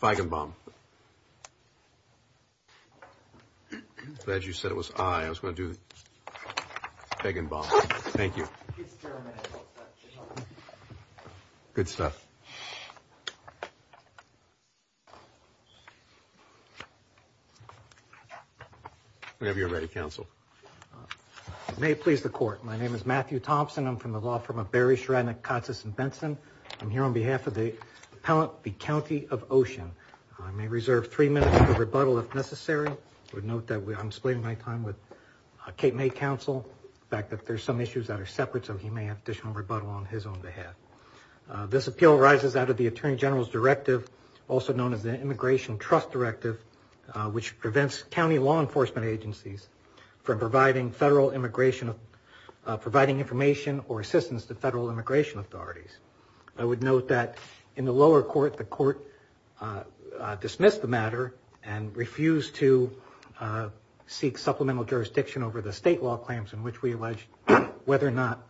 Feigenbaum. Glad you said it was I. I was going to do Feigenbaum. Thank you. Good stuff. Whenever you're ready. Council. May it please the Court, my name is Matthew Thompson. I'm from the law firm of Barry Shredner, Katz, and Benson. I'm here on behalf of the appellant, the County of Ocean. I may reserve three minutes for rebuttal if necessary. I would note that I'm splitting my time with Kate May counsel. In fact, there's some issues that are separate, so he may have additional rebuttal on his own behalf. This appeal arises out of the Attorney General's Directive, also known as the Immigration Trust Directive, which prevents county law enforcement agencies from providing federal immigration information or assistance to federal immigration authorities. I would note that in the lower court, the court dismissed the matter and refused to seek supplemental jurisdiction over the state law claims in which we allege whether or not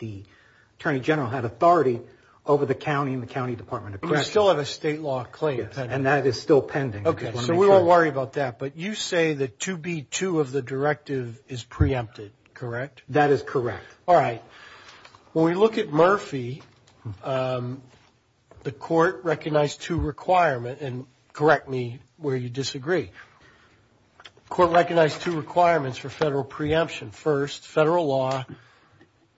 the Attorney General had authority over the county and the county department of correction. But we still have a state law claim pending. And that is still pending. Okay, so we won't worry about that. But you say that 2B2 of the directive is preempted, correct? That is correct. All right. When we look at Murphy, the court recognized two requirements, and correct me where you disagree. The court recognized two requirements for federal preemption. First, federal law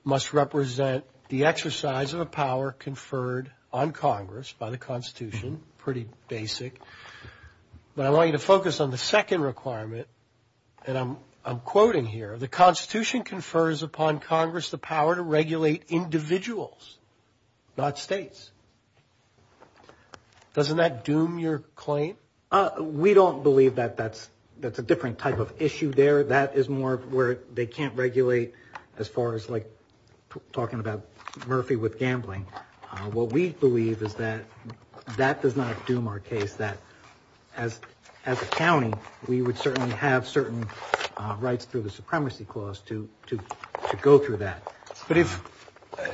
must represent the exercise of a power conferred on Congress by the Constitution, pretty basic. But I want you to focus on the second requirement, and I'm quoting here, the Constitution confers upon Congress the power to regulate individuals, not states. Doesn't that doom your claim? We don't believe that that's a different type of issue there. That is more where they can't regulate as far as like talking about Murphy with gambling. What we believe is that that does not doom our case, that as a county, we would certainly have certain rights through the supremacy clause to go through that. But if,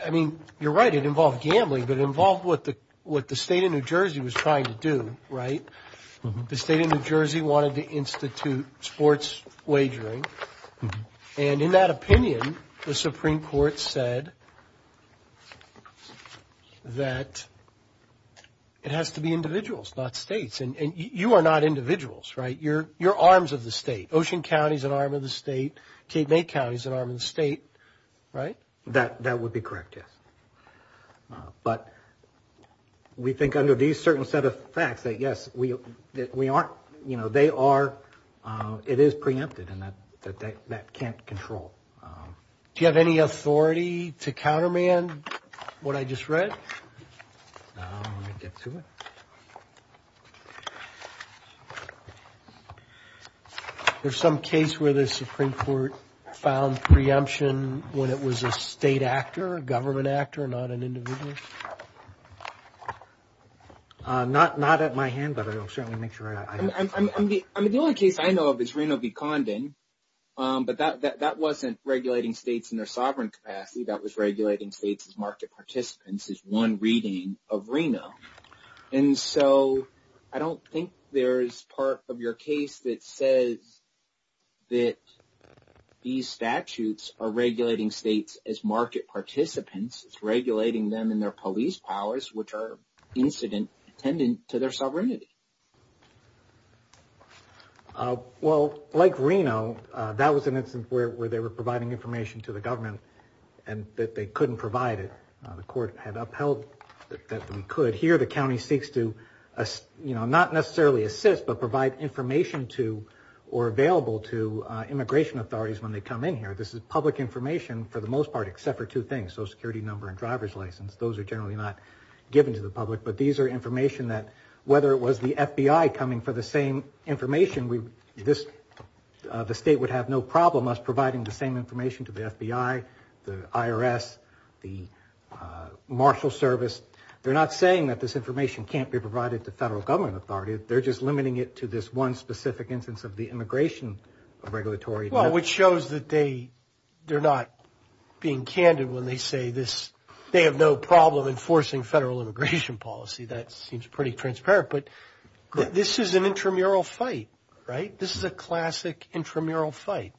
I mean, you're right, it involved gambling, but it involved what the state of New Jersey was trying to do, right? The state of New Jersey wanted to institute sports wagering. And in that opinion, the Supreme Court said that it has to be individuals, not states. And you are not individuals, right? You're arms of the state. Ocean County is an arm of the state. Cape May County is an arm of the state, right? That would be correct, yes. But we think under these certain set of facts that, yes, we aren't, you know, they are, it is preempted and that can't control. Do you have any authority to countermand what I just read? There's some case where the Supreme Court found preemption when it was a state actor, a government actor, not an individual? Not at my hand, but I will certainly make sure I have it. I mean, the only case I know of is Reno v. Condon, but that wasn't regulating states in their sovereign capacity. That was regulating states as market participants is one reading of Reno. And so I don't think there is part of your case that says that these statutes are regulating states as market participants. It's regulating them in their police powers, which are incident attendant to their sovereignty. Well, like Reno, that was an instance where they were providing information to the government and that they couldn't provide it. The court had upheld that they could. Here the county seeks to, you know, not necessarily assist, but provide information to or available to public information for the most part, except for two things, social security number and driver's license. Those are generally not given to the public, but these are information that whether it was the FBI coming for the same information, the state would have no problem as providing the same information to the FBI, the IRS, the marshal service. They're not saying that this information can't be provided to federal government authority. They're just limiting it to this one specific instance of the immigration regulatory. Well, which shows that they're not being candid when they say this, they have no problem enforcing federal immigration policy. That seems pretty transparent, but this is an intramural fight, right? This is a classic intramural fight.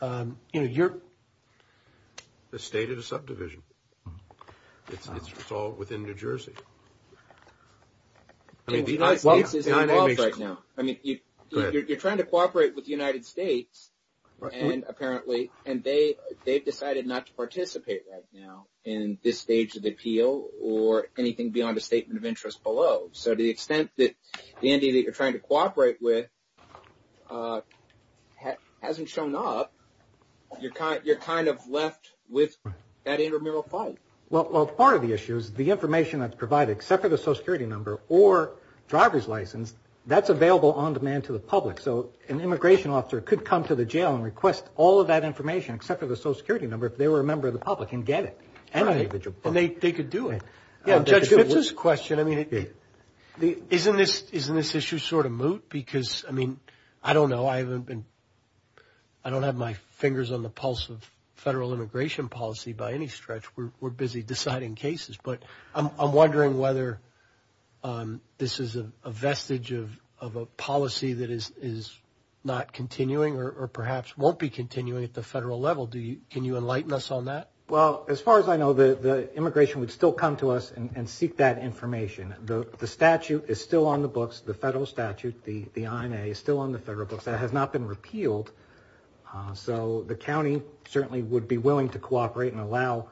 The state is a subdivision. It's all within New Jersey. The United States is involved right now. I mean, you're trying to cooperate with the United States and apparently, and they, they've decided not to participate right now in this stage of the appeal or anything beyond a statement of interest below. So to the extent that the entity that you're trying to cooperate with hasn't shown up, you're kind of left with that intramural fight. Well, part of the issue is the information that's provided, except for the social security number or driver's license, that's available on demand to the public. So an immigration officer could come to the jail and request all of that information except for the social security number, if they were a member of the public and get it. And they could do it. Judge Fitz's question, I mean, isn't this, isn't this issue sort of moot? Because I mean, I don't know. I haven't been, I don't have my fingers on the pulse of federal immigration policy by any stretch. We're busy deciding cases, but I'm wondering whether this is a vestige of a policy that is not continuing or perhaps won't be continuing at the federal level. Do you, can you enlighten us on that? Well, as far as I know, the immigration would still come to us and seek that information. The statute is still on the books. The federal statute, the INA is still on the federal books. It has not been repealed. So the county certainly would be willing to cooperate and allow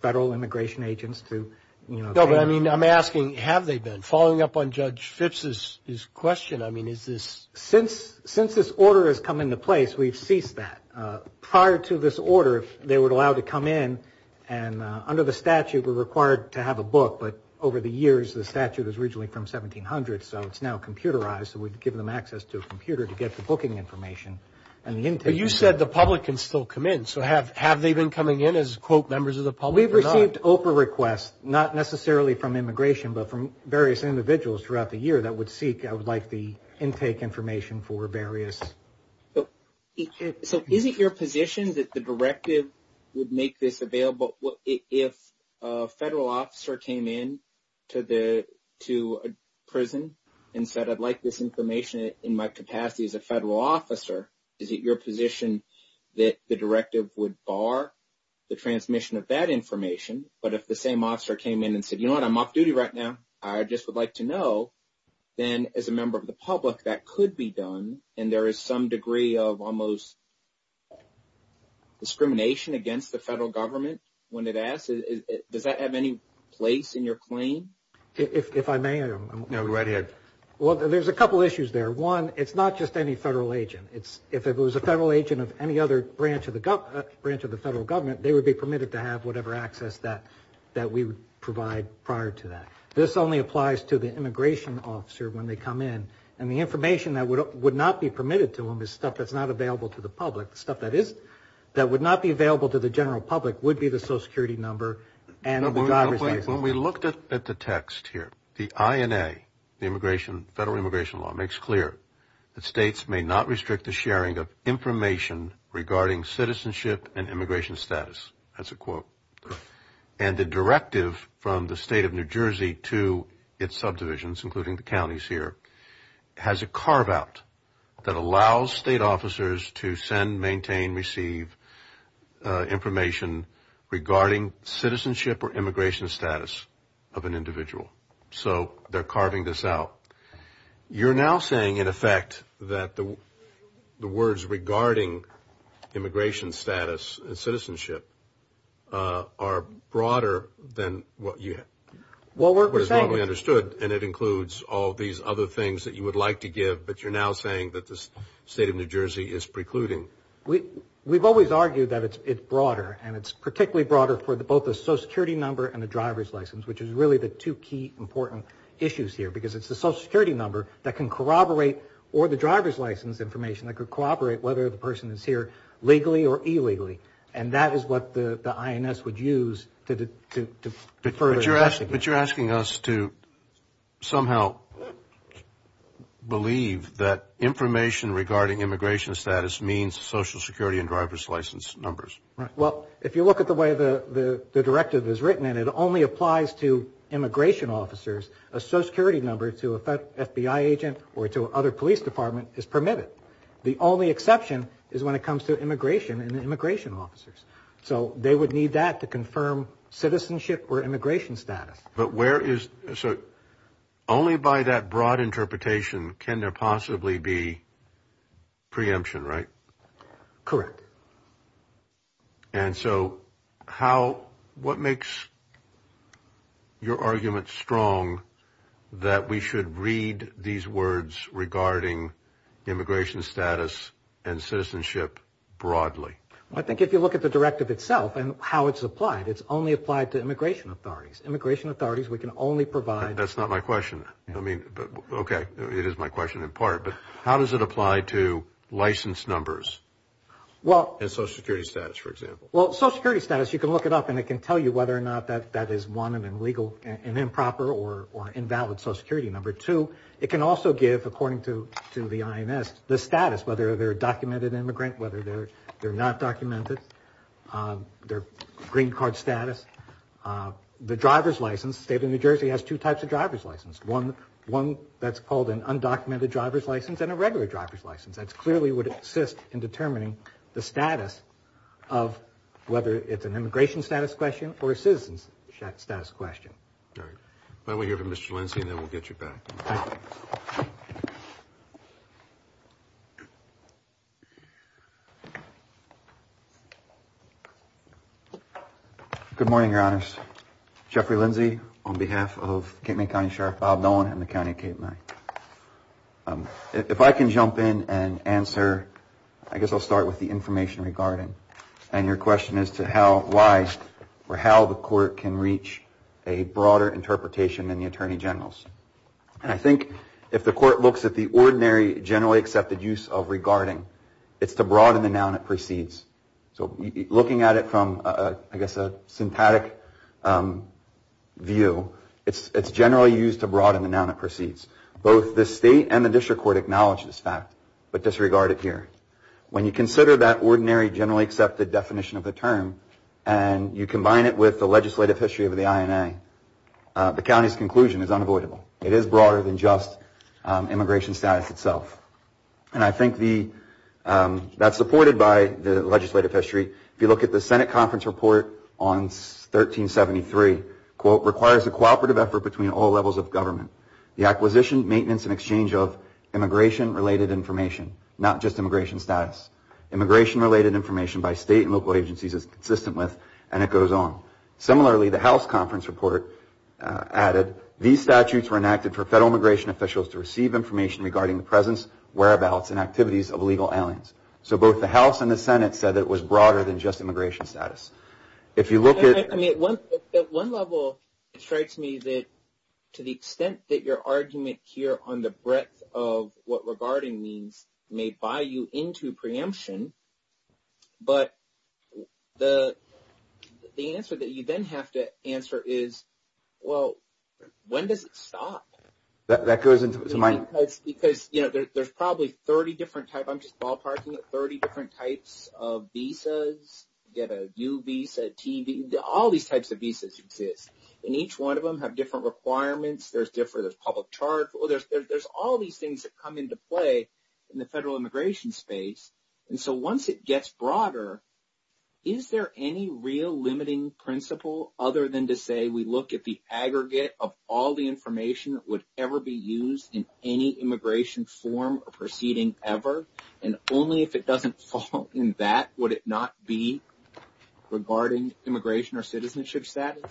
federal immigration agents to, you know, I mean, I'm asking, have they been? Following up on Judge Fitz's question, I mean, is this Since, since this order has come into place, we've ceased that. Prior to this order, if they were allowed to come in and under the statute, we're required to have a book. But over the years, the statute is originally from 1700. So it's now computerized. So we've given them access to a computer to get the booking information and the intake. You said the public can still come in. So have, have they been coming in as quote members of the public? We've received OPA requests, not necessarily from immigration, but from various individuals throughout the year that would seek, I would like the intake information for various. So is it your position that the directive would make this available if a federal officer came in to the, to a prison and said, I'd like this information in my capacity as a federal officer? Is it your position that the directive would bar the transmission of that information? But if the same officer came in and said, you know what, I'm off duty right now, I just would like to know, then as a member of the public, that could be done. And there is some degree of almost discrimination against the federal government when it asks, does that have any place in your claim? If I may, I'm right here. Well, there's a couple of issues there. One, it's not just any federal agent. It's if it was a federal agent of any other branch of the branch of the federal government, they would be permitted to have whatever access that, that we would provide prior to that. This only applies to the immigration officer when they come in. And the information that would not be permitted to them is stuff that's not available to the public. Stuff that is, that would not be available to the general public would be the social security number and the driver's license. When we looked at the text here, the INA, the immigration, federal immigration law, makes clear that states may not restrict the sharing of information regarding citizenship and immigration status. That's a quote. And the directive from the state of New Jersey to its subdivisions, including the counties here, has a carve out that allows state officers to send, maintain, receive information regarding citizenship or immigration status of an individual. So they're carving this out. You're now saying, in effect, that the words regarding immigration status and citizenship are broader than what you have. What we're saying is... What is normally understood, and it includes all these other things that you would like to give, but you're now saying that the state of New Jersey is precluding. We've always argued that it's broader. And it's particularly broader for both the social security number and the driver's license, which is really the two key important issues here. Because it's the social security number that can corroborate, or the driver's license information that could corroborate whether the person is here legally or illegally. And that is what the INS would use to further investigate. But you're asking us to somehow believe that information regarding immigration status means social security and driver's license numbers. Right. Well, if you look at the way the directive is written, and it only applies to immigration officers, a social security number to a FBI agent or to other police department is permitted. The only exception is when it comes to immigration and immigration officers. So they would need that to confirm citizenship or immigration status. But where is... So only by that broad interpretation can there possibly be preemption, right? Correct. And so how... What makes your argument strong that we should read these words regarding immigration status and citizenship broadly? I think if you look at the directive itself and how it's applied, it's only applied to immigration authorities. Immigration authorities, we can only provide... That's not my question. I mean, okay, it is my question in part. But how does it apply to license numbers? And social security status, for example? Well, social security status, you can look it up and it can tell you whether or not that is one, an improper or invalid social security number. Two, it can also give, according to the INS, the status, whether they're a documented immigrant, whether they're not documented, their green card status. The driver's license, the state of New Jersey has two types of driver's license. One that's called an undocumented driver's license and a regular driver's license. That clearly would assist in determining the status of whether it's an immigration status question or a citizen's status question. All right. Why don't we hear from Mr. Lindsey and then we'll get you back. Good morning, Your Honors. Jeffrey Lindsey on behalf of Cape May County Sheriff Bob Nolan and the County of Cape May. If I can jump in and answer, I guess I'll start with the broader interpretation in the Attorney General's. And I think if the court looks at the ordinary generally accepted use of regarding, it's to broaden the noun that precedes. So looking at it from, I guess, a syntactic view, it's generally used to broaden the noun that precedes. Both the state and the district court acknowledge this fact, but disregard it here. When you consider that ordinary generally accepted definition of the term and you combine it with the legislative history of the INA, the county's conclusion is unavoidable. It is broader than just immigration status itself. And I think that's supported by the legislative history. If you look at the Senate conference report on 1373, quote, requires a cooperative effort between all levels of government. The acquisition, maintenance, and exchange of immigration related information, not just immigration status. Immigration related information by state and local agencies is consistent with, and it goes on. Similarly, the House conference report added, these statutes were enacted for federal immigration officials to receive information regarding the presence, whereabouts, and activities of illegal aliens. So both the House and the Senate said that it was broader than just immigration status. If you look at- I mean, at one level, it strikes me that to the extent that your argument here on the floor, but the answer that you then have to answer is, well, when does it stop? That goes into my- Because there's probably 30 different types. I'm just ballparking it, 30 different types of visas. You get a U visa, a T visa, all these types of visas exist. And each one of them have different requirements. There's different, there's public charge. There's all these things that come into play in the federal immigration space. And so once it gets broader, is there any real limiting principle other than to say we look at the aggregate of all the information that would ever be used in any immigration form or proceeding ever? And only if it doesn't fall in that, would it not be regarding immigration or citizenship status?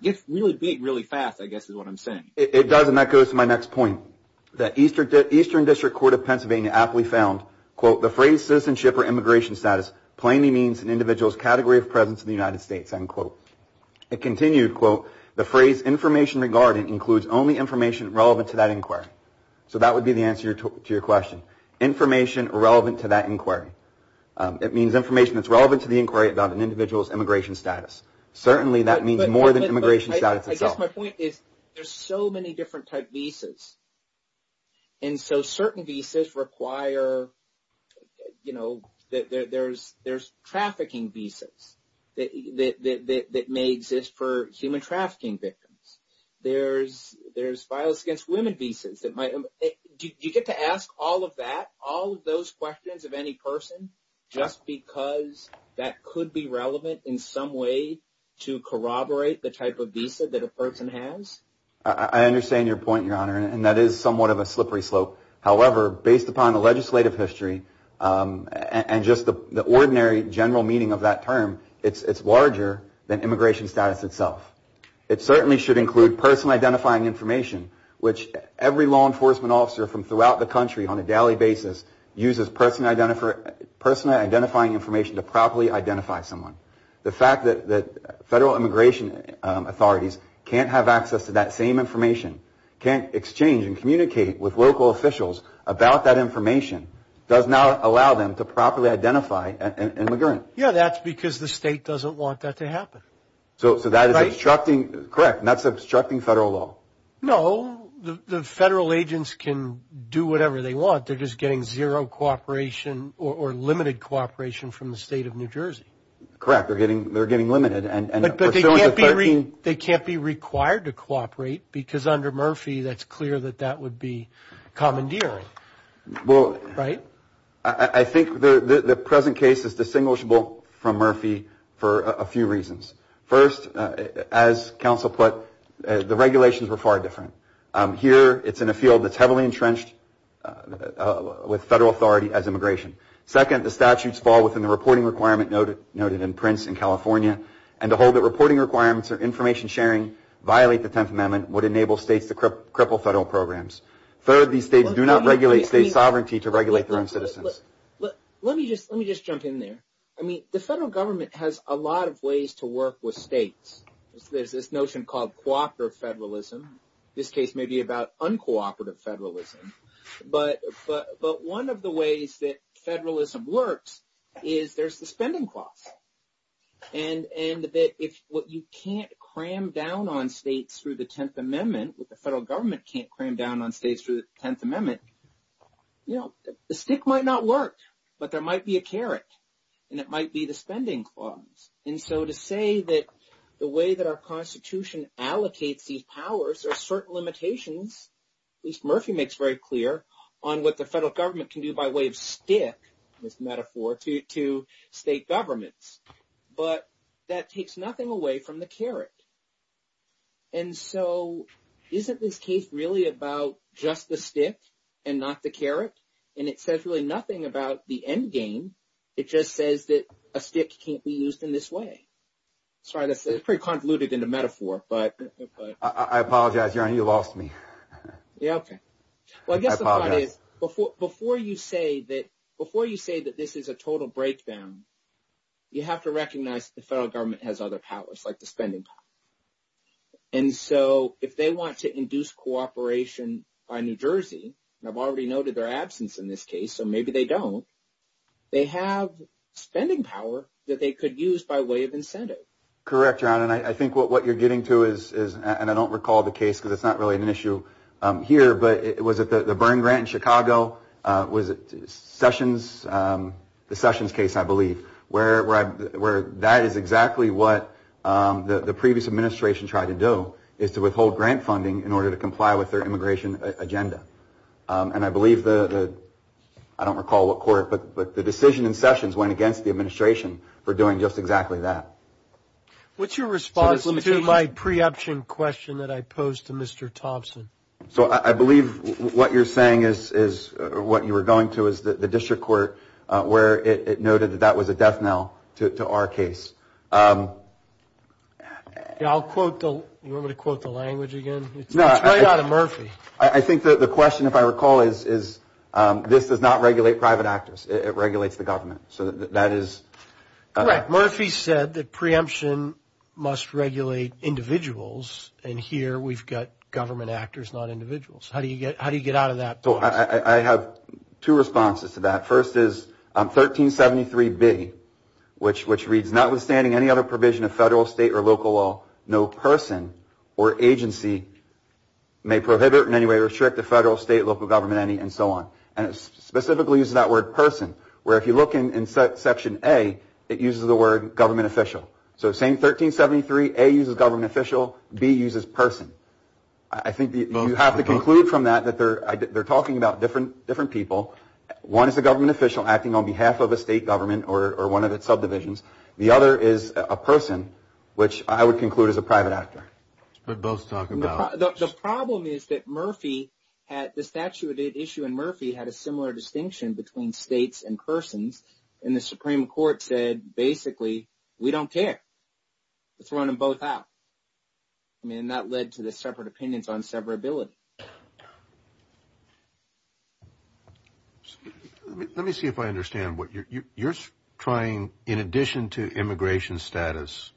It gets really big really fast, I guess, is what I'm saying. It does, and that goes to my next point. The Eastern District Court of Pennsylvania aptly found, quote, the phrase citizenship or immigration status plainly means an individual's category of presence in the United States, end quote. It continued, quote, the phrase information regarding includes only information relevant to that inquiry. So that would be the answer to your question, information relevant to that inquiry. It means information that's relevant to the inquiry about an individual's immigration status. Certainly that means more than immigration status itself. I guess my point is there's so many different type visas. And so certain visas require, you know, there's trafficking visas that may exist for human trafficking victims. There's violence against women visas that might. Do you get to ask all of that, all of those questions of any person just because that could be relevant in some way to corroborate the type of visa that a person has? I understand your point, Your Honor, and that is somewhat of a slippery slope. However, based upon the legislative history and just the ordinary general meaning of that term, it's larger than immigration status itself. It certainly should include personal identifying information, which every law enforcement officer from throughout the country on a daily basis uses personal identifying information to properly identify someone. The fact that federal immigration authorities can't have access to that same information, can't exchange and communicate with local officials about that information, does not allow them to properly identify an immigrant. Yeah, that's because the state doesn't want that to happen. So that is obstructing, correct, that's obstructing federal law. No, the federal agents can do whatever they want. They're just getting zero cooperation or limited cooperation from the state of New Jersey. Correct, they're getting limited. But they can't be required to cooperate because under Murphy, that's clear that that would be commandeering, right? I think the present case is distinguishable from Murphy for a few reasons. First, as counsel put, the regulations were far different. Here, it's in a field that's heavily entrenched with federal authority as immigration. Second, the statutes fall within the reporting requirement noted in Prince in California, and to hold that reporting requirements or information sharing violate the 10th Amendment would enable states to cripple federal programs. Third, these states do not regulate state sovereignty to regulate their own citizens. Let me just jump in there. I mean, the federal government has a lot of ways to work with states. There's this notion called cooperative federalism. This case may be about uncooperative federalism, but one of the ways that federalism works is there's the spending clause. And that if what you can't cram down on states through the 10th Amendment, what the federal government can't cram down on states through the 10th Amendment, you know, the stick might not work, but there might be a carrot, and it might be the spending clause. And so to say that the way that our Constitution allocates these powers or certain limitations, at least Murphy makes very clear, on what the federal government can do by way of stick, this metaphor, to state governments, but that takes nothing away from the carrot. And so isn't this case really about just the stick and not the carrot? And it says really nothing about the endgame. It just says that a stick can't be used in this way. Sorry, that's pretty convoluted in the metaphor, but... I apologize, Your Honor, you lost me. Yeah, okay. Well, I guess the point is, before you say that this is a total breakdown, you have to recognize that the federal government has other powers, like the spending power. And so if they want to induce cooperation by New Jersey, and I've already noted their absence in this case, so maybe they don't, they have spending power that they could use by way of incentive. Correct, Your Honor, and I think what you're getting to is, and I don't recall the case, because it's not really an issue here, but was it the Byrne grant in Chicago? Was it Sessions? The Sessions case, I believe, where that is exactly what the previous administration tried to do, is to withhold grant funding in order to comply with their immigration agenda. And I believe the, I don't recall what court, but the decision in Sessions went against the administration for doing just exactly that. What's your response to my pre-option question that I posed to Mr. Thompson? So I believe what you're saying is, or what you were going to, is the district court, where it noted that that was a death knell to our case. Yeah, I'll quote the, you want me to quote the language again? It's right out of Murphy. I think the question, if I recall, is this does not regulate private actors. It regulates the government. So that is... Correct. Murphy said that pre-option must regulate individuals, and here we've got government actors, not individuals. How do you get out of that? I have two responses to that. First is 1373B, which reads, notwithstanding any other provision of federal, state, or local law, no person or agency may prohibit in any way or restrict the federal, state, local government, any, and so on. And it specifically uses that word person, where if you look in section A, it uses the word government official. So same 1373, A uses government official, B uses person. I think you have to conclude from that that they're talking about different people. One is a government official acting on behalf of a state government or one of its subdivisions. The other is a person, which I would conclude is a private actor. But both talk about... The problem is that Murphy, the statute issue in Murphy had a similar distinction between states and persons, and the Supreme Court said, basically, we don't care. Let's run them both out. And that led to the separate opinions on severability. Let me see if I understand. You're trying, in addition to immigration status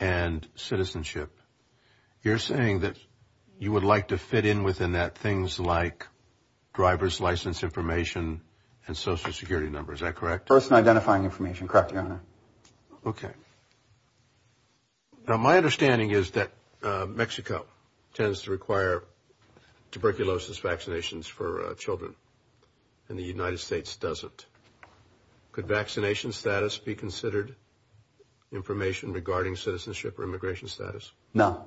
and citizenship, you're saying that you would like to fit in within that things like driver's license information and social security number. Is that correct? Person identifying information. Correct, Your Honor. Okay. Now, my understanding is that Mexico tends to require tuberculosis vaccinations for children, and the United States doesn't. Could vaccination status be considered information regarding citizenship or immigration status? No.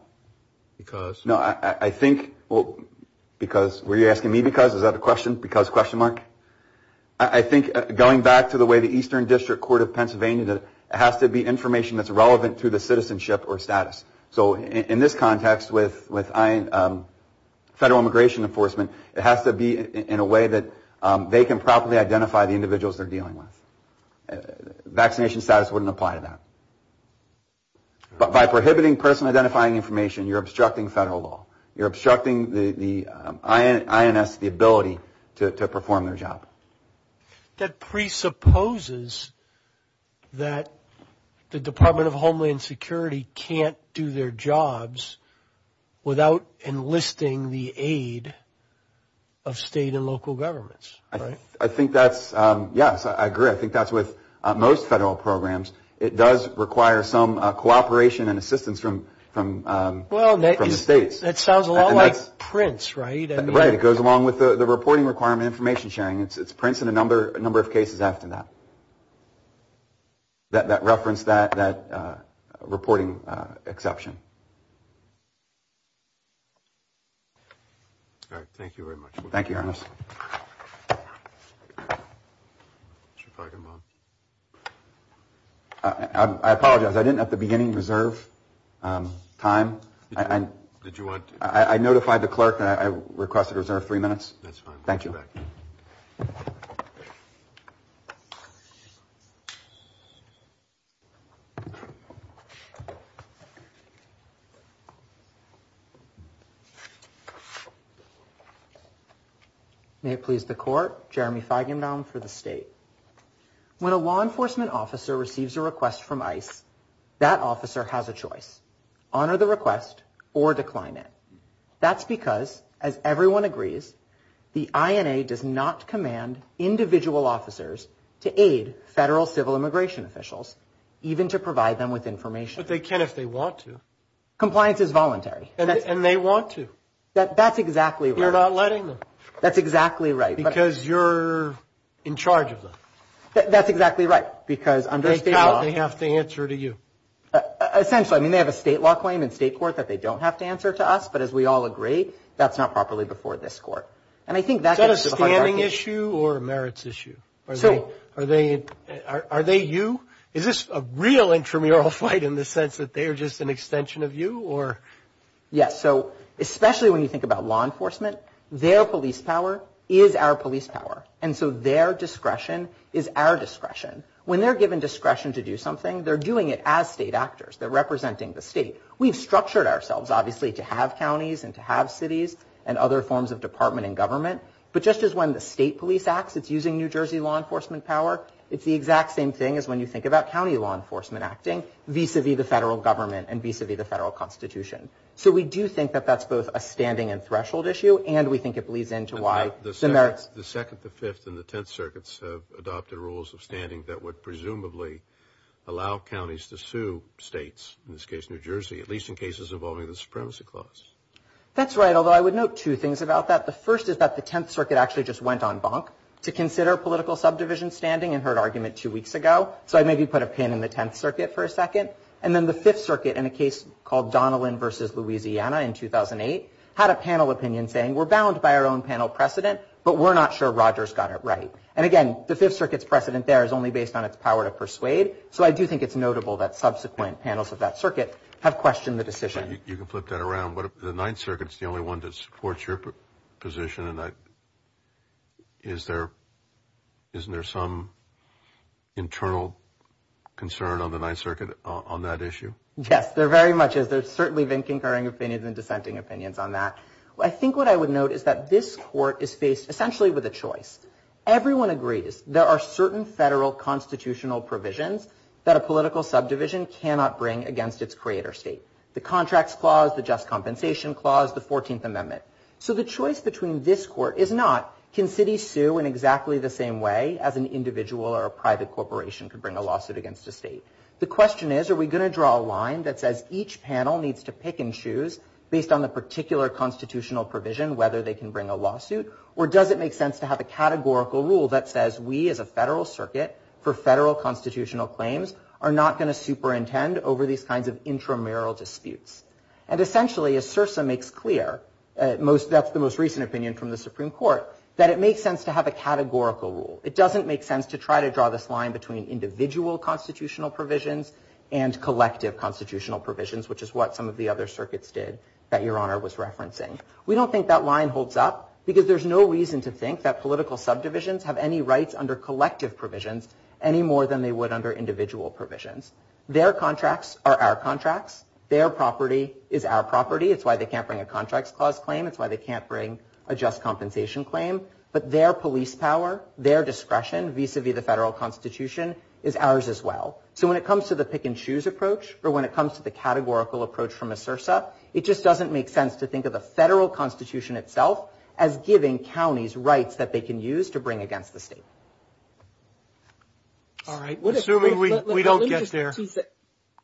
Because? No, I think... Were you asking me because? Is that a question? Because question mark? I think, going back to the way the Eastern District Court of Pennsylvania did it, it has to be information that's relevant to the citizenship or status. So, in this context, with federal immigration enforcement, it has to be in a way that they can properly identify the individuals they're dealing with. Vaccination status wouldn't apply to that. But by prohibiting person identifying information, you're obstructing federal law. You're obstructing the INS, the ability to perform their job. That presupposes that the Department of Homeland Security can't do their jobs without enlisting the aid of state and local governments, right? I think that's... Yes, I agree. I think that's with most federal programs. It does require some cooperation and assistance from the states. That sounds a lot like PRINCE, right? Right. It goes along with the reporting requirement information sharing. It's PRINCE and a number of cases after that, that reference that reporting exception. All right. Thank you very much. Thank you, Your Honor. I apologize. I didn't at the beginning reserve time. Did you want... I notified the clerk that I requested to reserve three minutes. That's fine. Thank you. May it please the court. Jeremy Feigenbaum for the state. When a law enforcement officer receives a request from ICE, that officer has a choice. Honor the request or decline it. That's because, as everyone agrees, the INA does not command individual officers to aid federal civil immigration officials, even to provide them with information. But they can if they want to. Compliance is voluntary. And they want to. That's exactly right. It's about letting them. That's exactly right. Because you're in charge of them. That's exactly right. Because under state law... They have to answer to you. Essentially. I mean, they have a state law claim in state court that they don't have to answer to us, but as we all agree, that's not properly before this court. And I think that... Is that a standing issue or a merits issue? So... Are they you? Is this a real intramural fight in the sense that they are just an extension of you or... Yes. So, especially when you think about law enforcement, their police power is our police power. And so their discretion is our discretion. When they're given discretion to do something, they're doing it as state actors. They're representing the state. We've structured ourselves, obviously, to have counties and to have cities and other forms of department and government. But just as when the state police acts, it's using New Jersey law enforcement power, it's the exact same thing as when you think about county law enforcement acting vis-a-vis the federal government and vis-a-vis the federal constitution. So we do think that that's both a standing and threshold issue, and we think it bleeds into why the merits... The Second, the Fifth, and the Tenth Circuits have adopted rules of standing that would presumably allow counties to sue states, in this case New Jersey, at least in cases involving the supremacy clause. That's right, although I would note two things about that. The first is that the Tenth Circuit actually just went on bonk to consider political subdivision standing and heard argument two weeks ago. So I'd maybe put a pin in the Tenth Circuit for a second. And then the Fifth Circuit, in a case called Donnellan v. Louisiana in 2008, had a panel opinion saying, we're bound by our own panel precedent, but we're not sure Rogers got it right. And again, the Fifth Circuit's precedent there is only based on its power to persuade. So I do think it's notable that subsequent panels of that circuit have questioned the decision. You can flip that around, but the Ninth Circuit's the only one that supports your position, and I, is there, isn't there some internal concern on the Ninth Circuit on that issue? Yes, there very much is. There's certainly been concurring opinions and dissenting opinions on that. I think what I would note is that this court is faced essentially with a choice. Everyone agrees there are certain federal constitutional provisions that a political subdivision cannot bring against its creator state. The Contracts Clause, the Just Compensation Clause, the Fourteenth Amendment. So the choice between this court is not, can cities sue in exactly the same way as an individual or a private corporation could bring a lawsuit against a state? The question is, are we going to draw a line that says each panel needs to pick and choose based on the particular constitutional provision whether they can bring a lawsuit, or does it make sense to have a categorical rule that says we as a federal circuit for federal constitutional claims are not going to superintend over these kinds of intramural disputes? And essentially, as SIRSA makes clear, that's the most recent opinion from the Supreme Court, that it makes sense to have a categorical rule. It doesn't make sense to try to draw this line between individual constitutional provisions and collective constitutional provisions, which is what some of the other circuits did that Your Honor was referencing. We don't think that line holds up because there's no reason to think that political subdivisions have any rights under collective provisions any more than they would under individual provisions. Their contracts are our contracts. Their property is our property. It's why they can't bring a contracts clause claim. It's why they can't bring a just compensation claim. But their police power, their discretion vis-a-vis the federal constitution is ours as well. So when it comes to the pick-and-choose approach or when it comes to the categorical approach from a SIRSA, it just doesn't make sense to think of the federal constitution itself as giving counties rights that they can use to bring against the state. All right. Assuming we don't get there.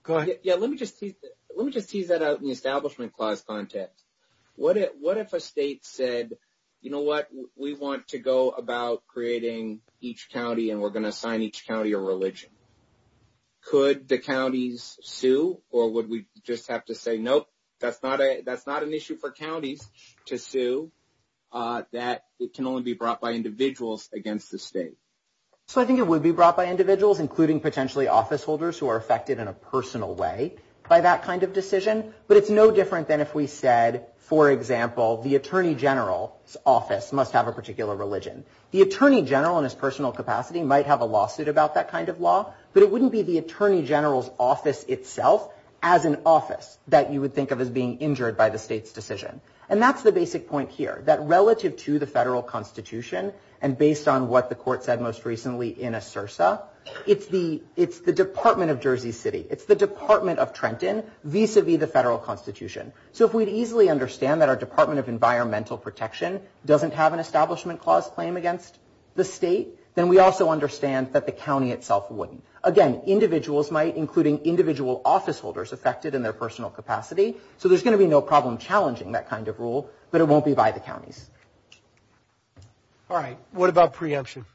Go ahead. Yeah, let me just tease that out in the establishment clause context. What if a state said, you know what, we want to go about creating each county and we're going to assign each county a religion? Could the counties sue or would we just have to say, nope, that's not an issue for counties to sue, that it can only be brought by individuals against the state? So I think it would be brought by individuals, including potentially office holders who are affected in a personal way by that kind of decision. But it's no different than if we said, for example, the Attorney General's office must have a particular religion. The Attorney General in his personal capacity might have a lawsuit about that kind of law, but it wouldn't be the Attorney General's office itself as an office that you would think of as being injured by the state's decision. And that's the basic point here, that relative to the federal constitution and based on what the court said most recently in a CIRSA, it's the Department of Jersey City. It's the Department of Trenton vis-a-vis the federal constitution. So if we'd easily understand that our Department of Environmental Protection doesn't have an establishment clause claim against the state, then we also understand that the county itself wouldn't. Again, individuals might, including individual office holders affected in their personal capacity. So there's going to be no problem challenging that kind of rule, but it won't be by the counties. All right. What about preemption?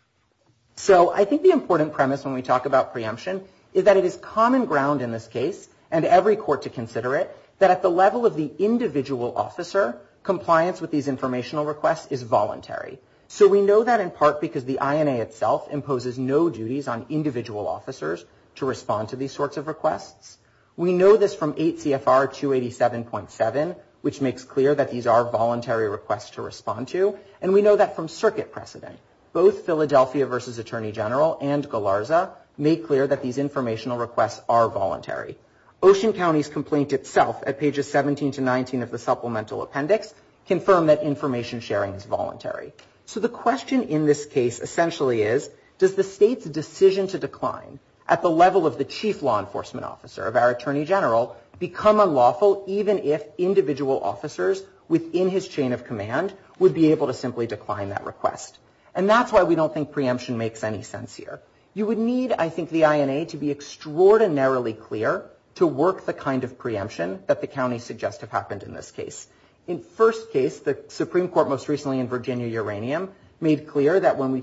So I think the important premise when we talk about preemption is that it is common ground in this case, and every court to consider it, that at the level of the individual officer, compliance with these informational requests is voluntary. So we know that in part because the INA itself imposes no duties on individual officers to respond to these sorts of requests. We know this from 8 CFR 287.7, which makes clear that these are voluntary requests to respond to, and we know that from circuit precedent. Both Philadelphia v. Attorney General and Galarza make clear that these informational requests are voluntary. Ocean County's complaint itself at pages 17 to 19 of the supplemental appendix confirm that information sharing is voluntary. So the question in this case essentially is, does the state's decision to decline at the level of the chief law enforcement officer, of our attorney general, become unlawful even if individual officers within his chain of command would be able to simply decline that request? And that's why we don't think preemption makes any sense here. You would need, I think, the INA to be extraordinarily clear to work the kind of preemption that the counties suggest have happened in this case. In first case, the Supreme Court most recently in Virginia-Uranium made clear that when we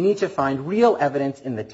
need to find real evidence in the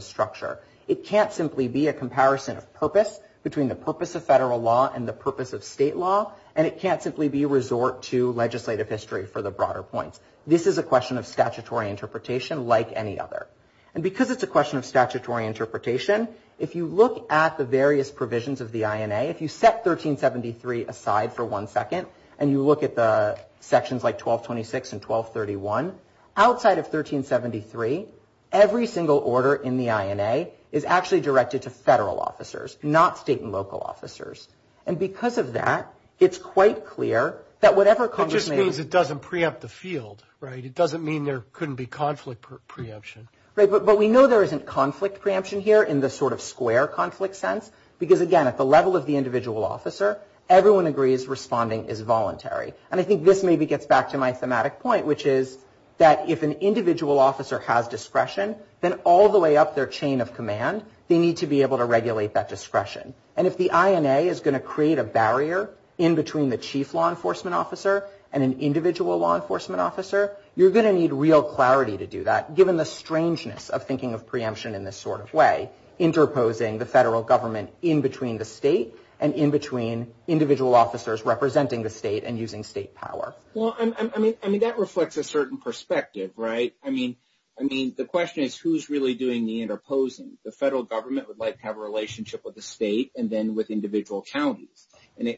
structure, it can't simply be a comparison of purpose between the purpose of federal law and the purpose of state law, and it can't simply be a resort to legislative history for the broader points. This is a question of statutory interpretation like any other. And because it's a question of statutory interpretation, if you look at the various provisions of the INA, if you set 1373 aside for one second and you look at the sections like 1226 and 1231, outside of 1373, every single order in the INA is actually directed to federal officers, not state and local officers. And because of that, it's quite clear that whatever Congress may have... It just means it doesn't preempt the field, right? It doesn't mean there couldn't be conflict preemption. But we know there isn't conflict preemption here in the sort of square conflict sense because, again, at the level of the individual officer, everyone agrees responding is voluntary. And I think this maybe gets back to my thematic point, which is that if an individual officer has discretion, then all the way up their chain of command, they need to be able to regulate that discretion. And if the INA is going to create a barrier in between the chief law enforcement officer and an individual law enforcement officer, you're going to need real clarity to do that, given the strangeness of thinking of preemption in this sort of way, interposing the federal government in between the state and in between individual officers representing the state and using state power. Well, I mean, that reflects a certain perspective, right? I mean, the question is, who's really doing the interposing? The federal government would like to have a relationship with the state and then with individual counties.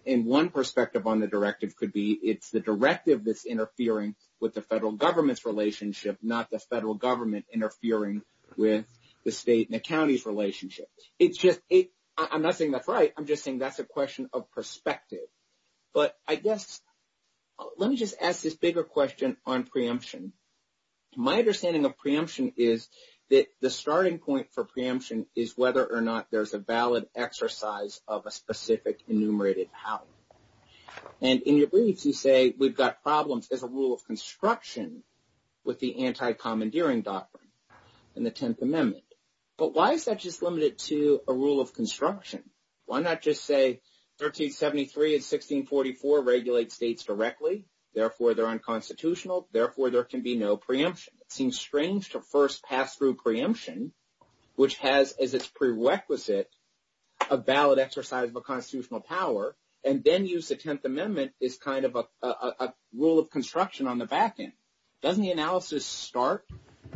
And one perspective on the directive could be it's the directive that's interfering with the federal government's relationship, not the federal government interfering with the state and the county's relationship. I'm not saying that's right. I'm just saying that's a question of perspective. But I guess let me just ask this bigger question on preemption. My understanding of preemption is that the starting point for preemption is whether or not there's a valid exercise of a specific enumerated how. And in your briefs, you say we've got problems as a rule of construction with the anti-commandeering doctrine in the 10th Amendment. But why is that just limited to a rule of construction? Why not just say 1373 and 1644 regulate states directly? Therefore, they're unconstitutional. Therefore, there can be no preemption. It seems strange to first pass through preemption, which has as its prerequisite a valid exercise of a constitutional power, and then use the 10th Amendment as kind of a rule of construction on the back end. Doesn't the analysis start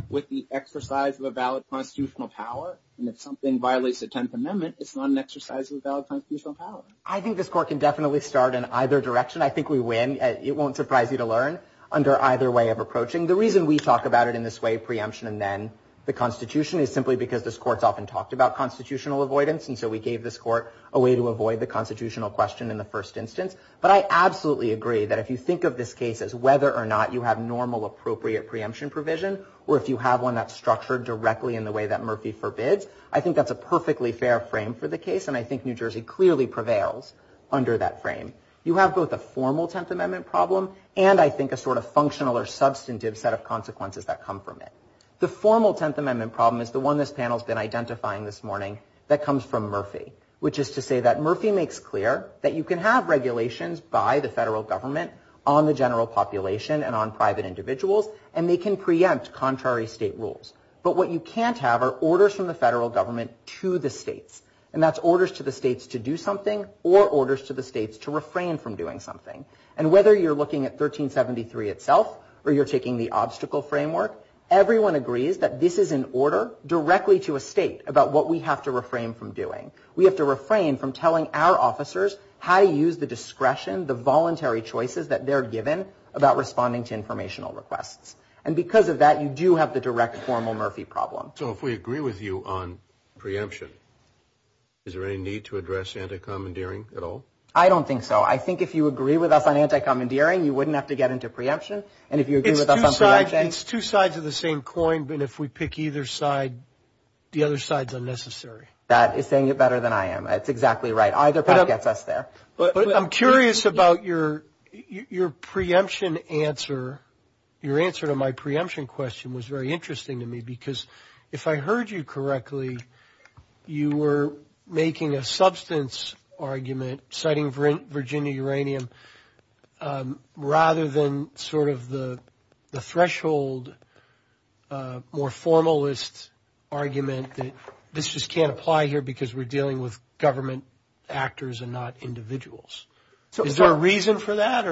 with the exercise of a valid constitutional power? And if something violates the 10th Amendment, it's not an exercise of a valid constitutional power. I think this court can definitely start in either direction. I think we win. It won't surprise you to learn under either way of approaching. The reason we talk about it in this way, preemption and then the Constitution, is simply because this court's often talked about constitutional avoidance. And so we gave this court a way to avoid the constitutional question in the first instance. But I absolutely agree that if you think of this case as whether or not you have normal appropriate preemption provision, or if you have one that's structured directly in the way that Murphy forbids, I think that's a perfectly fair frame for the case. And I think New Jersey clearly prevails under that frame. You have both a formal 10th Amendment problem, and I think a sort of functional or substantive set of consequences that come from it. The formal 10th Amendment problem is the one this panel's been identifying this morning that comes from Murphy. Which is to say that Murphy makes clear that you can have regulations by the federal government on the general population and on private individuals, and they can preempt contrary state rules. But what you can't have are orders from the federal government to the states. And that's orders to the states to do something, or orders to the states to refrain from doing something. And whether you're looking at 1373 itself, or you're taking the obstacle framework, everyone agrees that this is an order directly to a state about what we have to refrain from doing. We have to refrain from telling our officers how to use the discretion, the voluntary choices that they're given about responding to informational requests. And because of that, you do have the direct formal Murphy problem. So if we agree with you on preemption, is there any need to address anti-commandeering at all? I don't think so. I think if you agree with us on anti-commandeering, you wouldn't have to get into preemption. And if you agree with us on preemption? It's two sides of the same coin, but if we pick either side, the other side's unnecessary. That is saying it better than I am. That's exactly right. Either gets us there. But I'm curious about your preemption answer. Your answer to my preemption question was very interesting to me. Because if I heard you correctly, you were making a substance argument citing Virginia uranium rather than sort of the threshold, more formalist argument that this just can't apply here because we're dealing with government actors and not individuals. Is there a reason for that?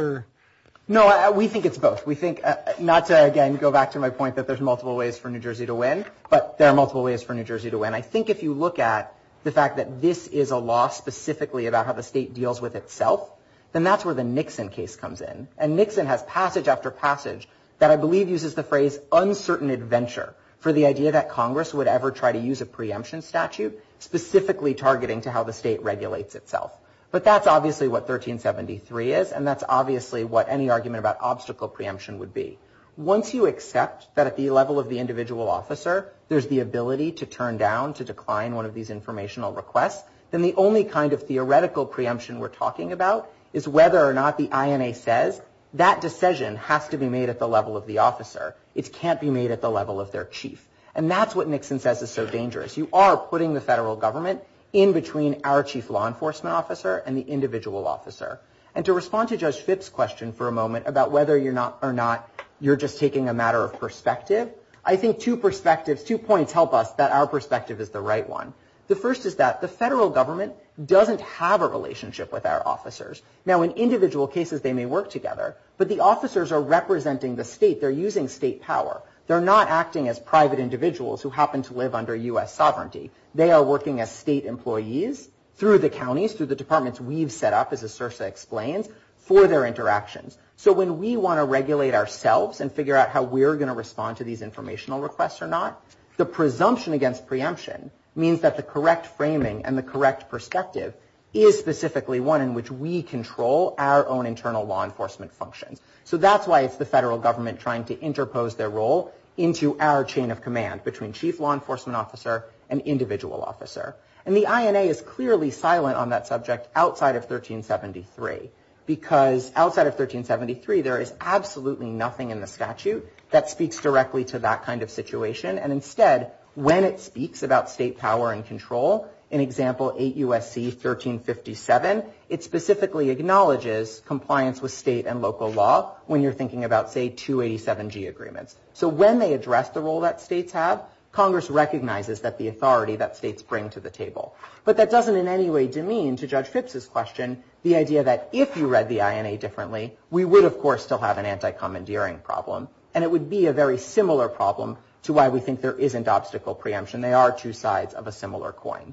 No, we think it's both. We think, not to again go back to my point that there's multiple ways for New Jersey to win, but there are multiple ways for New Jersey to win. I think if you look at the fact that this is a law specifically about how the state deals with itself, then that's where the Nixon case comes in. And Nixon has passage after passage that I believe uses the phrase uncertain adventure for the idea that Congress would ever try to use a law that regulates itself. But that's obviously what 1373 is and that's obviously what any argument about obstacle preemption would be. Once you accept that at the level of the individual officer, there's the ability to turn down, to decline one of these informational requests, then the only kind of theoretical preemption we're talking about is whether or not the INA says that decision has to be made at the level of the officer. It can't be made at the level of their chief. And that's what Nixon says is so dangerous. You are putting the federal government in between our chief law enforcement officer and the individual officer. And to respond to Judge Phipps' question for a moment about whether or not you're just taking a matter of perspective, I think two perspectives, two points help us that our perspective is the right one. The first is that the federal government doesn't have a relationship with our officers. Now in individual cases they may work together, but the officers are representing the state. They're using state power. They're not acting as private individuals who happen to live under U.S. sovereignty. They are working as state employees through the counties, through the departments we've set up, as Asursa explains, for their interactions. So when we want to regulate ourselves and figure out how we're going to respond to these informational requests or not, the presumption against preemption means that the correct framing and the correct perspective is specifically one in which we control our own internal law enforcement functions. So that's why it's the federal government trying to interpose their role into our chain of command between chief law enforcement officer and individual officer. And the INA is clearly silent on that subject outside of 1373 because outside of 1373 there is absolutely nothing in the statute that speaks directly to that kind of situation. And instead, when it speaks about state power and control, in example 8 U.S.C. 1357, it specifically acknowledges compliance with state and local laws when you're thinking about, say, 287G agreements. So when they address the role that states have, Congress recognizes that the authority that states bring to the table. But that doesn't in any way demean, to Judge Phipps's question, the idea that if you read the INA differently, we would, of course, still have an anti-commandeering problem. And it would be a very similar problem to why we think there isn't obstacle preemption. They are two sides of a similar coin.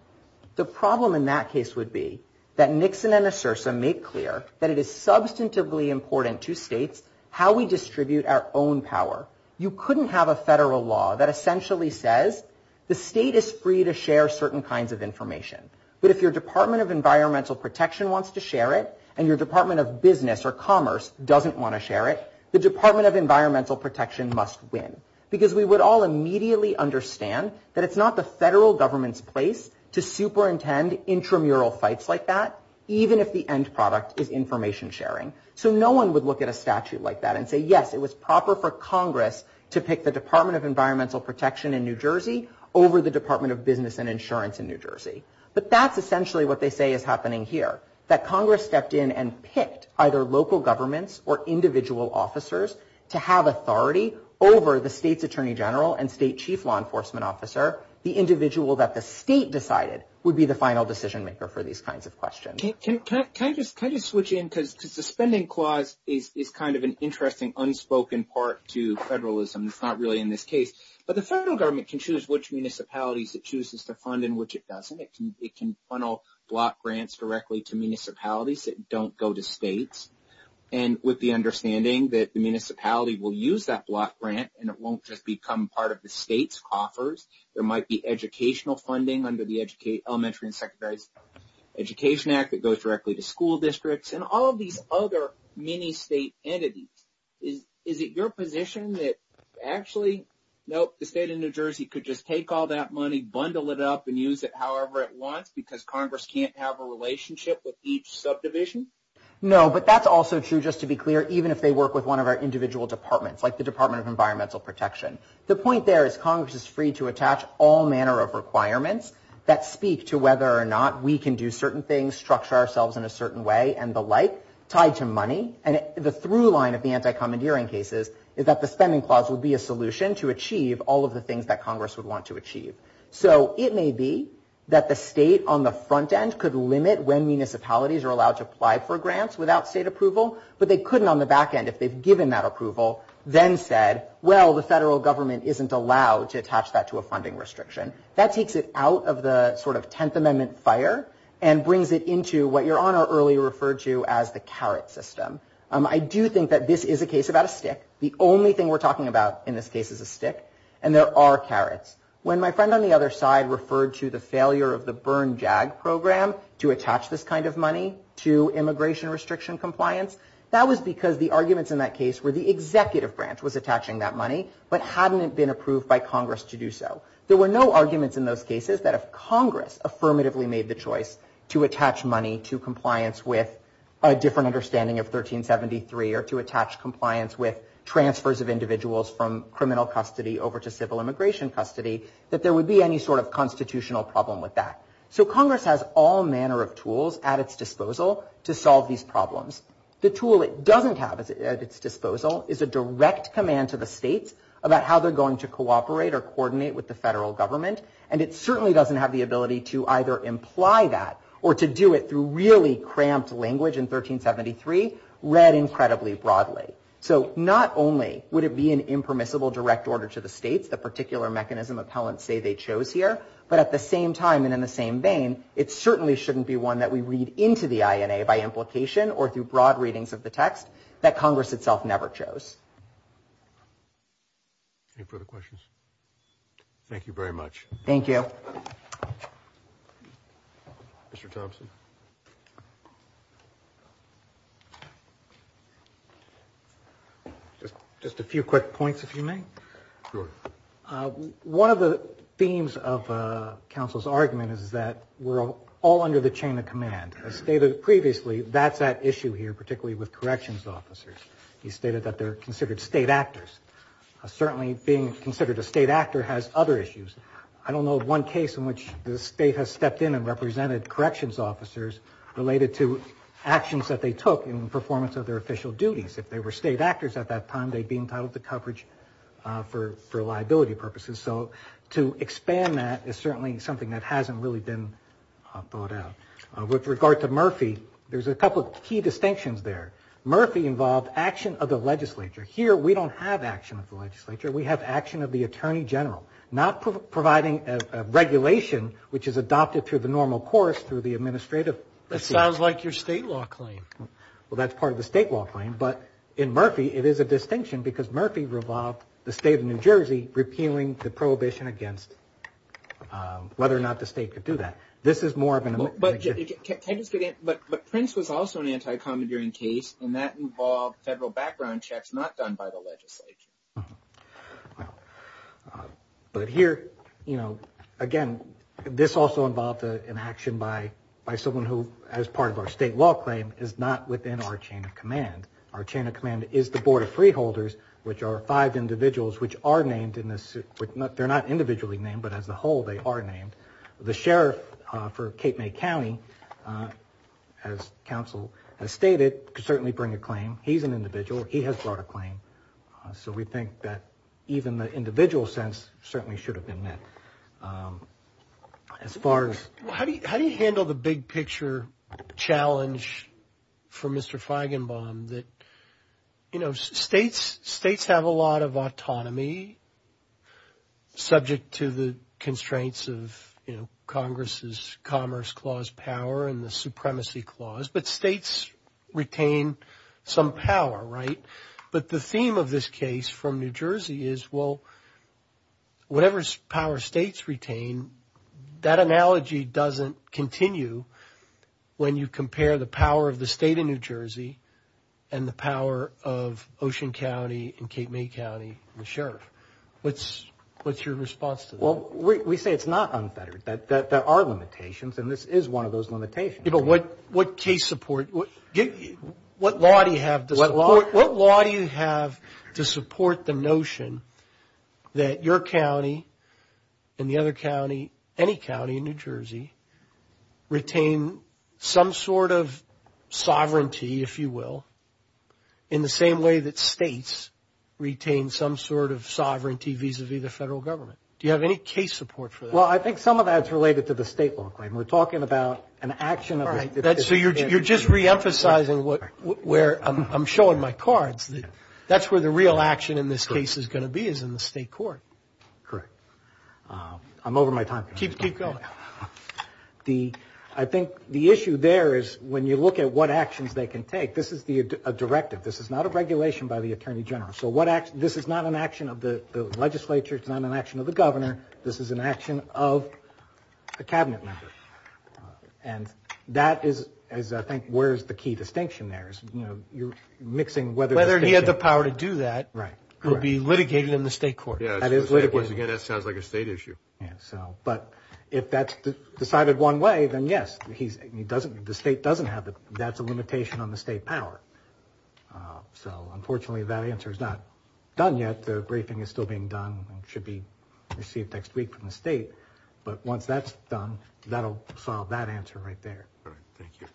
The problem in that case would be that Nixon and Asursa make clear that it is substantively important to states how we distribute our own power. You couldn't have a federal law that essentially says the state is free to share certain kinds of information. But if your Department of Environmental Protection wants to share it and your Department of Business or Commerce doesn't want to share it, the Department of Environmental Protection must win. Because we would all immediately understand that it's not the federal government's place to superintend intramural fights like that, even if the state is free to do information sharing. So no one would look at a statute like that and say, yes, it was proper for Congress to pick the Department of Environmental Protection in New Jersey over the Department of Business and Insurance in New Jersey. But that's essentially what they say is happening here, that Congress stepped in and picked either local governments or individual officers to have authority over the state's Attorney General and state chief law enforcement officer, the individual that the state decided would be the Attorney General. So the Suspending Clause is kind of an interesting unspoken part to federalism. It's not really in this case. But the federal government can choose which municipalities it chooses to fund and which it doesn't. It can funnel block grants directly to municipalities that don't go to states. And with the understanding that the municipality will use that block grant and it won't just become part of the state's offers, there might be educational funding under the Elementary and Secondary Education Act that can be used as other mini-state entities. Is it your position that actually, nope, the state of New Jersey could just take all that money, bundle it up and use it however it wants because Congress can't have a relationship with each subdivision? No. But that's also true, just to be clear, even if they work with one of our individual departments, like the Department of Environmental Protection. The point there is Congress is free to attach all manner of requirements that speak to whether or not we can do certain things, structure ourselves in a certain way and the like, tied to money. And the through line of the anti-commandeering cases is that the spending clause would be a solution to achieve all of the things that Congress would want to achieve. So it may be that the state on the front end could limit when municipalities are allowed to apply for grants without state approval, but they couldn't on the back end if they've given that approval, then said, well, the federal government isn't allowed to attach that to a funding restriction. That takes it out of the sort of Tenth Amendment fire and brings it into what Your Honor earlier referred to as the carrot system. I do think that this is a case about a stick. The only thing we're talking about in this case is a stick. And there are carrots. When my friend on the other side referred to the failure of the burn JAG program to attach this kind of money to immigration restriction compliance, that was because the arguments in that case were the executive branch was attaching that money but hadn't it been approved by Congress to do so. There were no arguments in those cases that if Congress affirmatively made the choice to attach money to compliance with a different understanding of 1373 or to attach compliance with transfers of individuals from criminal custody over to civil immigration custody, that there would be any sort of constitutional problem with that. So Congress has all manner of tools at its disposal to solve these problems. The tool it doesn't have at its disposal is a direct command to the states about how they're going to cooperate or coordinate with the federal government. And it certainly doesn't have the ability to either imply that or to do it through really cramped language in 1373 read incredibly broadly. So not only would it be an impermissible direct order to the states, the particular mechanism appellants say they chose here, but at the same time and in the same vein, it certainly shouldn't be one that we read into the INA by implication or through broad readings of the text that Congress itself never chose. Any further questions? Thank you very much. Thank you. Mr. Thompson. Just a few quick points, if you may. Go ahead. One of the themes of counsel's argument is that we're all under the chain of command. As stated previously, that's at issue here, particularly with corrections officers. He stated that they're considered state actors. Certainly being considered a state actor has other issues. I don't know of one case in which the state has stepped in and represented corrections officers related to actions that they took in performance of their official duties. If they were state actors at that time, they'd be entitled to coverage for liability purposes. So to expand that is certainly something that hasn't really been thought out. With regard to Murphy, there's a couple of key distinctions there. Murphy involved action of the legislature. Here, we don't have action of the legislature. We have action of the attorney general. Not providing a regulation which is adopted through the normal course through the administrative procedure. That sounds like your state law claim. Well, that's part of the state law claim. But in Murphy, it is a distinction because Murphy revolved the state of New Jersey repealing the prohibition against whether or not the state could do that. This is more of an image. But Prince was also an anti-commandeering case, and that involved federal background checks not done by the legislature. But here, again, this also involved an action by someone who, as part of our state law claim, is not within our chain of command. Our chain of command is the Board of Freeholders, which are five individuals which are named in this. They're not individually named, but as a whole, they are named. The sheriff for Cape May County, as counsel has stated, could certainly bring a claim. He's an individual. He has brought a claim. So we think that even the individual sense certainly should have been met. How do you handle the big picture challenge for Mr. Feigenbaum that, Congress's Commerce Clause power and the Supremacy Clause, but states retain some power, right? But the theme of this case from New Jersey is, well, whatever power states retain, that analogy doesn't continue when you compare the power of the state of New Jersey and the power of Ocean County and Cape May County and the sheriff. What's your response to that? Well, we say it's not unfettered. There are limitations, and this is one of those limitations. But what case support, what law do you have to support the notion that your county and the other county, any county in New Jersey, retain some sort of sovereignty, if you will, in the same way that states retain some sort of sovereignty vis-a-vis the federal government? Do you have any case support for that? Well, I think some of that's related to the state law claim. We're talking about an action of the state. All right. So you're just reemphasizing where I'm showing my cards. That's where the real action in this case is going to be, is in the state court. Correct. I'm over my time. Keep going. I think the issue there is when you look at what actions they can take, this is a directive. This is not a regulation by the Attorney General. So this is not an action of the legislature. It's not an action of the governor. This is an action of a cabinet member. And that is, I think, where's the key distinction there is, you know, you're mixing whether the state. Whether he had the power to do that. Right. Or be litigated in the state court. Yeah. That is litigated. Once again, that sounds like a state issue. Yeah. So, but if that's decided one way, then yes, he doesn't, the state doesn't have the, that's a limitation on the state power. So, unfortunately, that answer is not done yet. The briefing is still being done and should be received next week from the state. But once that's done, that'll solve that answer right there. All right. Thank you.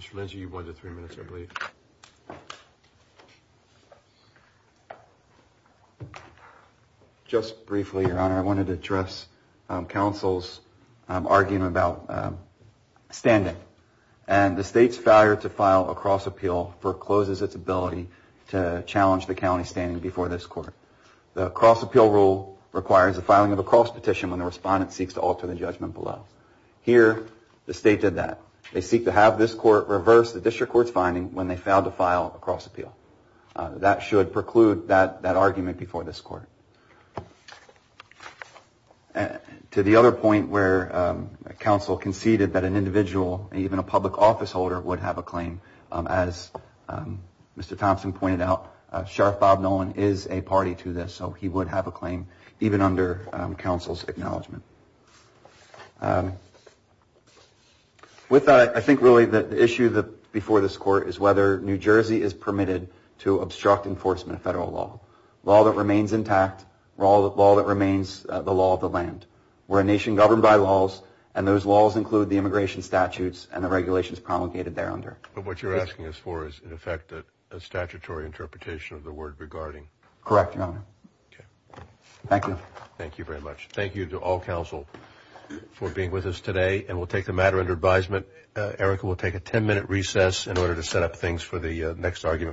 Mr. Lindsey, you wanted three minutes, I believe. Just briefly, Your Honor, I wanted to address councils arguing about standing and the state's failure to file a cross appeal for closes its ability to alter the judgment before this court. The cross appeal rule requires the filing of a cross petition when the respondent seeks to alter the judgment below. Here, the state did that. They seek to have this court reverse the district court's finding when they failed to file a cross appeal. That should preclude that argument before this court. To the other point where counsel conceded that an individual, even a public office holder, would have a claim, as Mr. Thompson pointed out, Sheriff Bob Nolan is a party to this, so he would have a claim, even under counsel's acknowledgment. With that, I think really the issue before this court is whether New Jersey is permitted to obstruct enforcement of federal law. Law that remains intact, law that remains the law of the land. We're a nation governed by laws, and those laws include the immigration statutes and the regulations promulgated there under. But what you're asking us for is, in effect, a statutory interpretation of the word regarding. Correct, Your Honor. Okay. Thank you. Thank you very much. Thank you to all counsel for being with us today, and we'll take the matter under advisement. Erica will take a 10-minute recess in order to set up things for the next argument.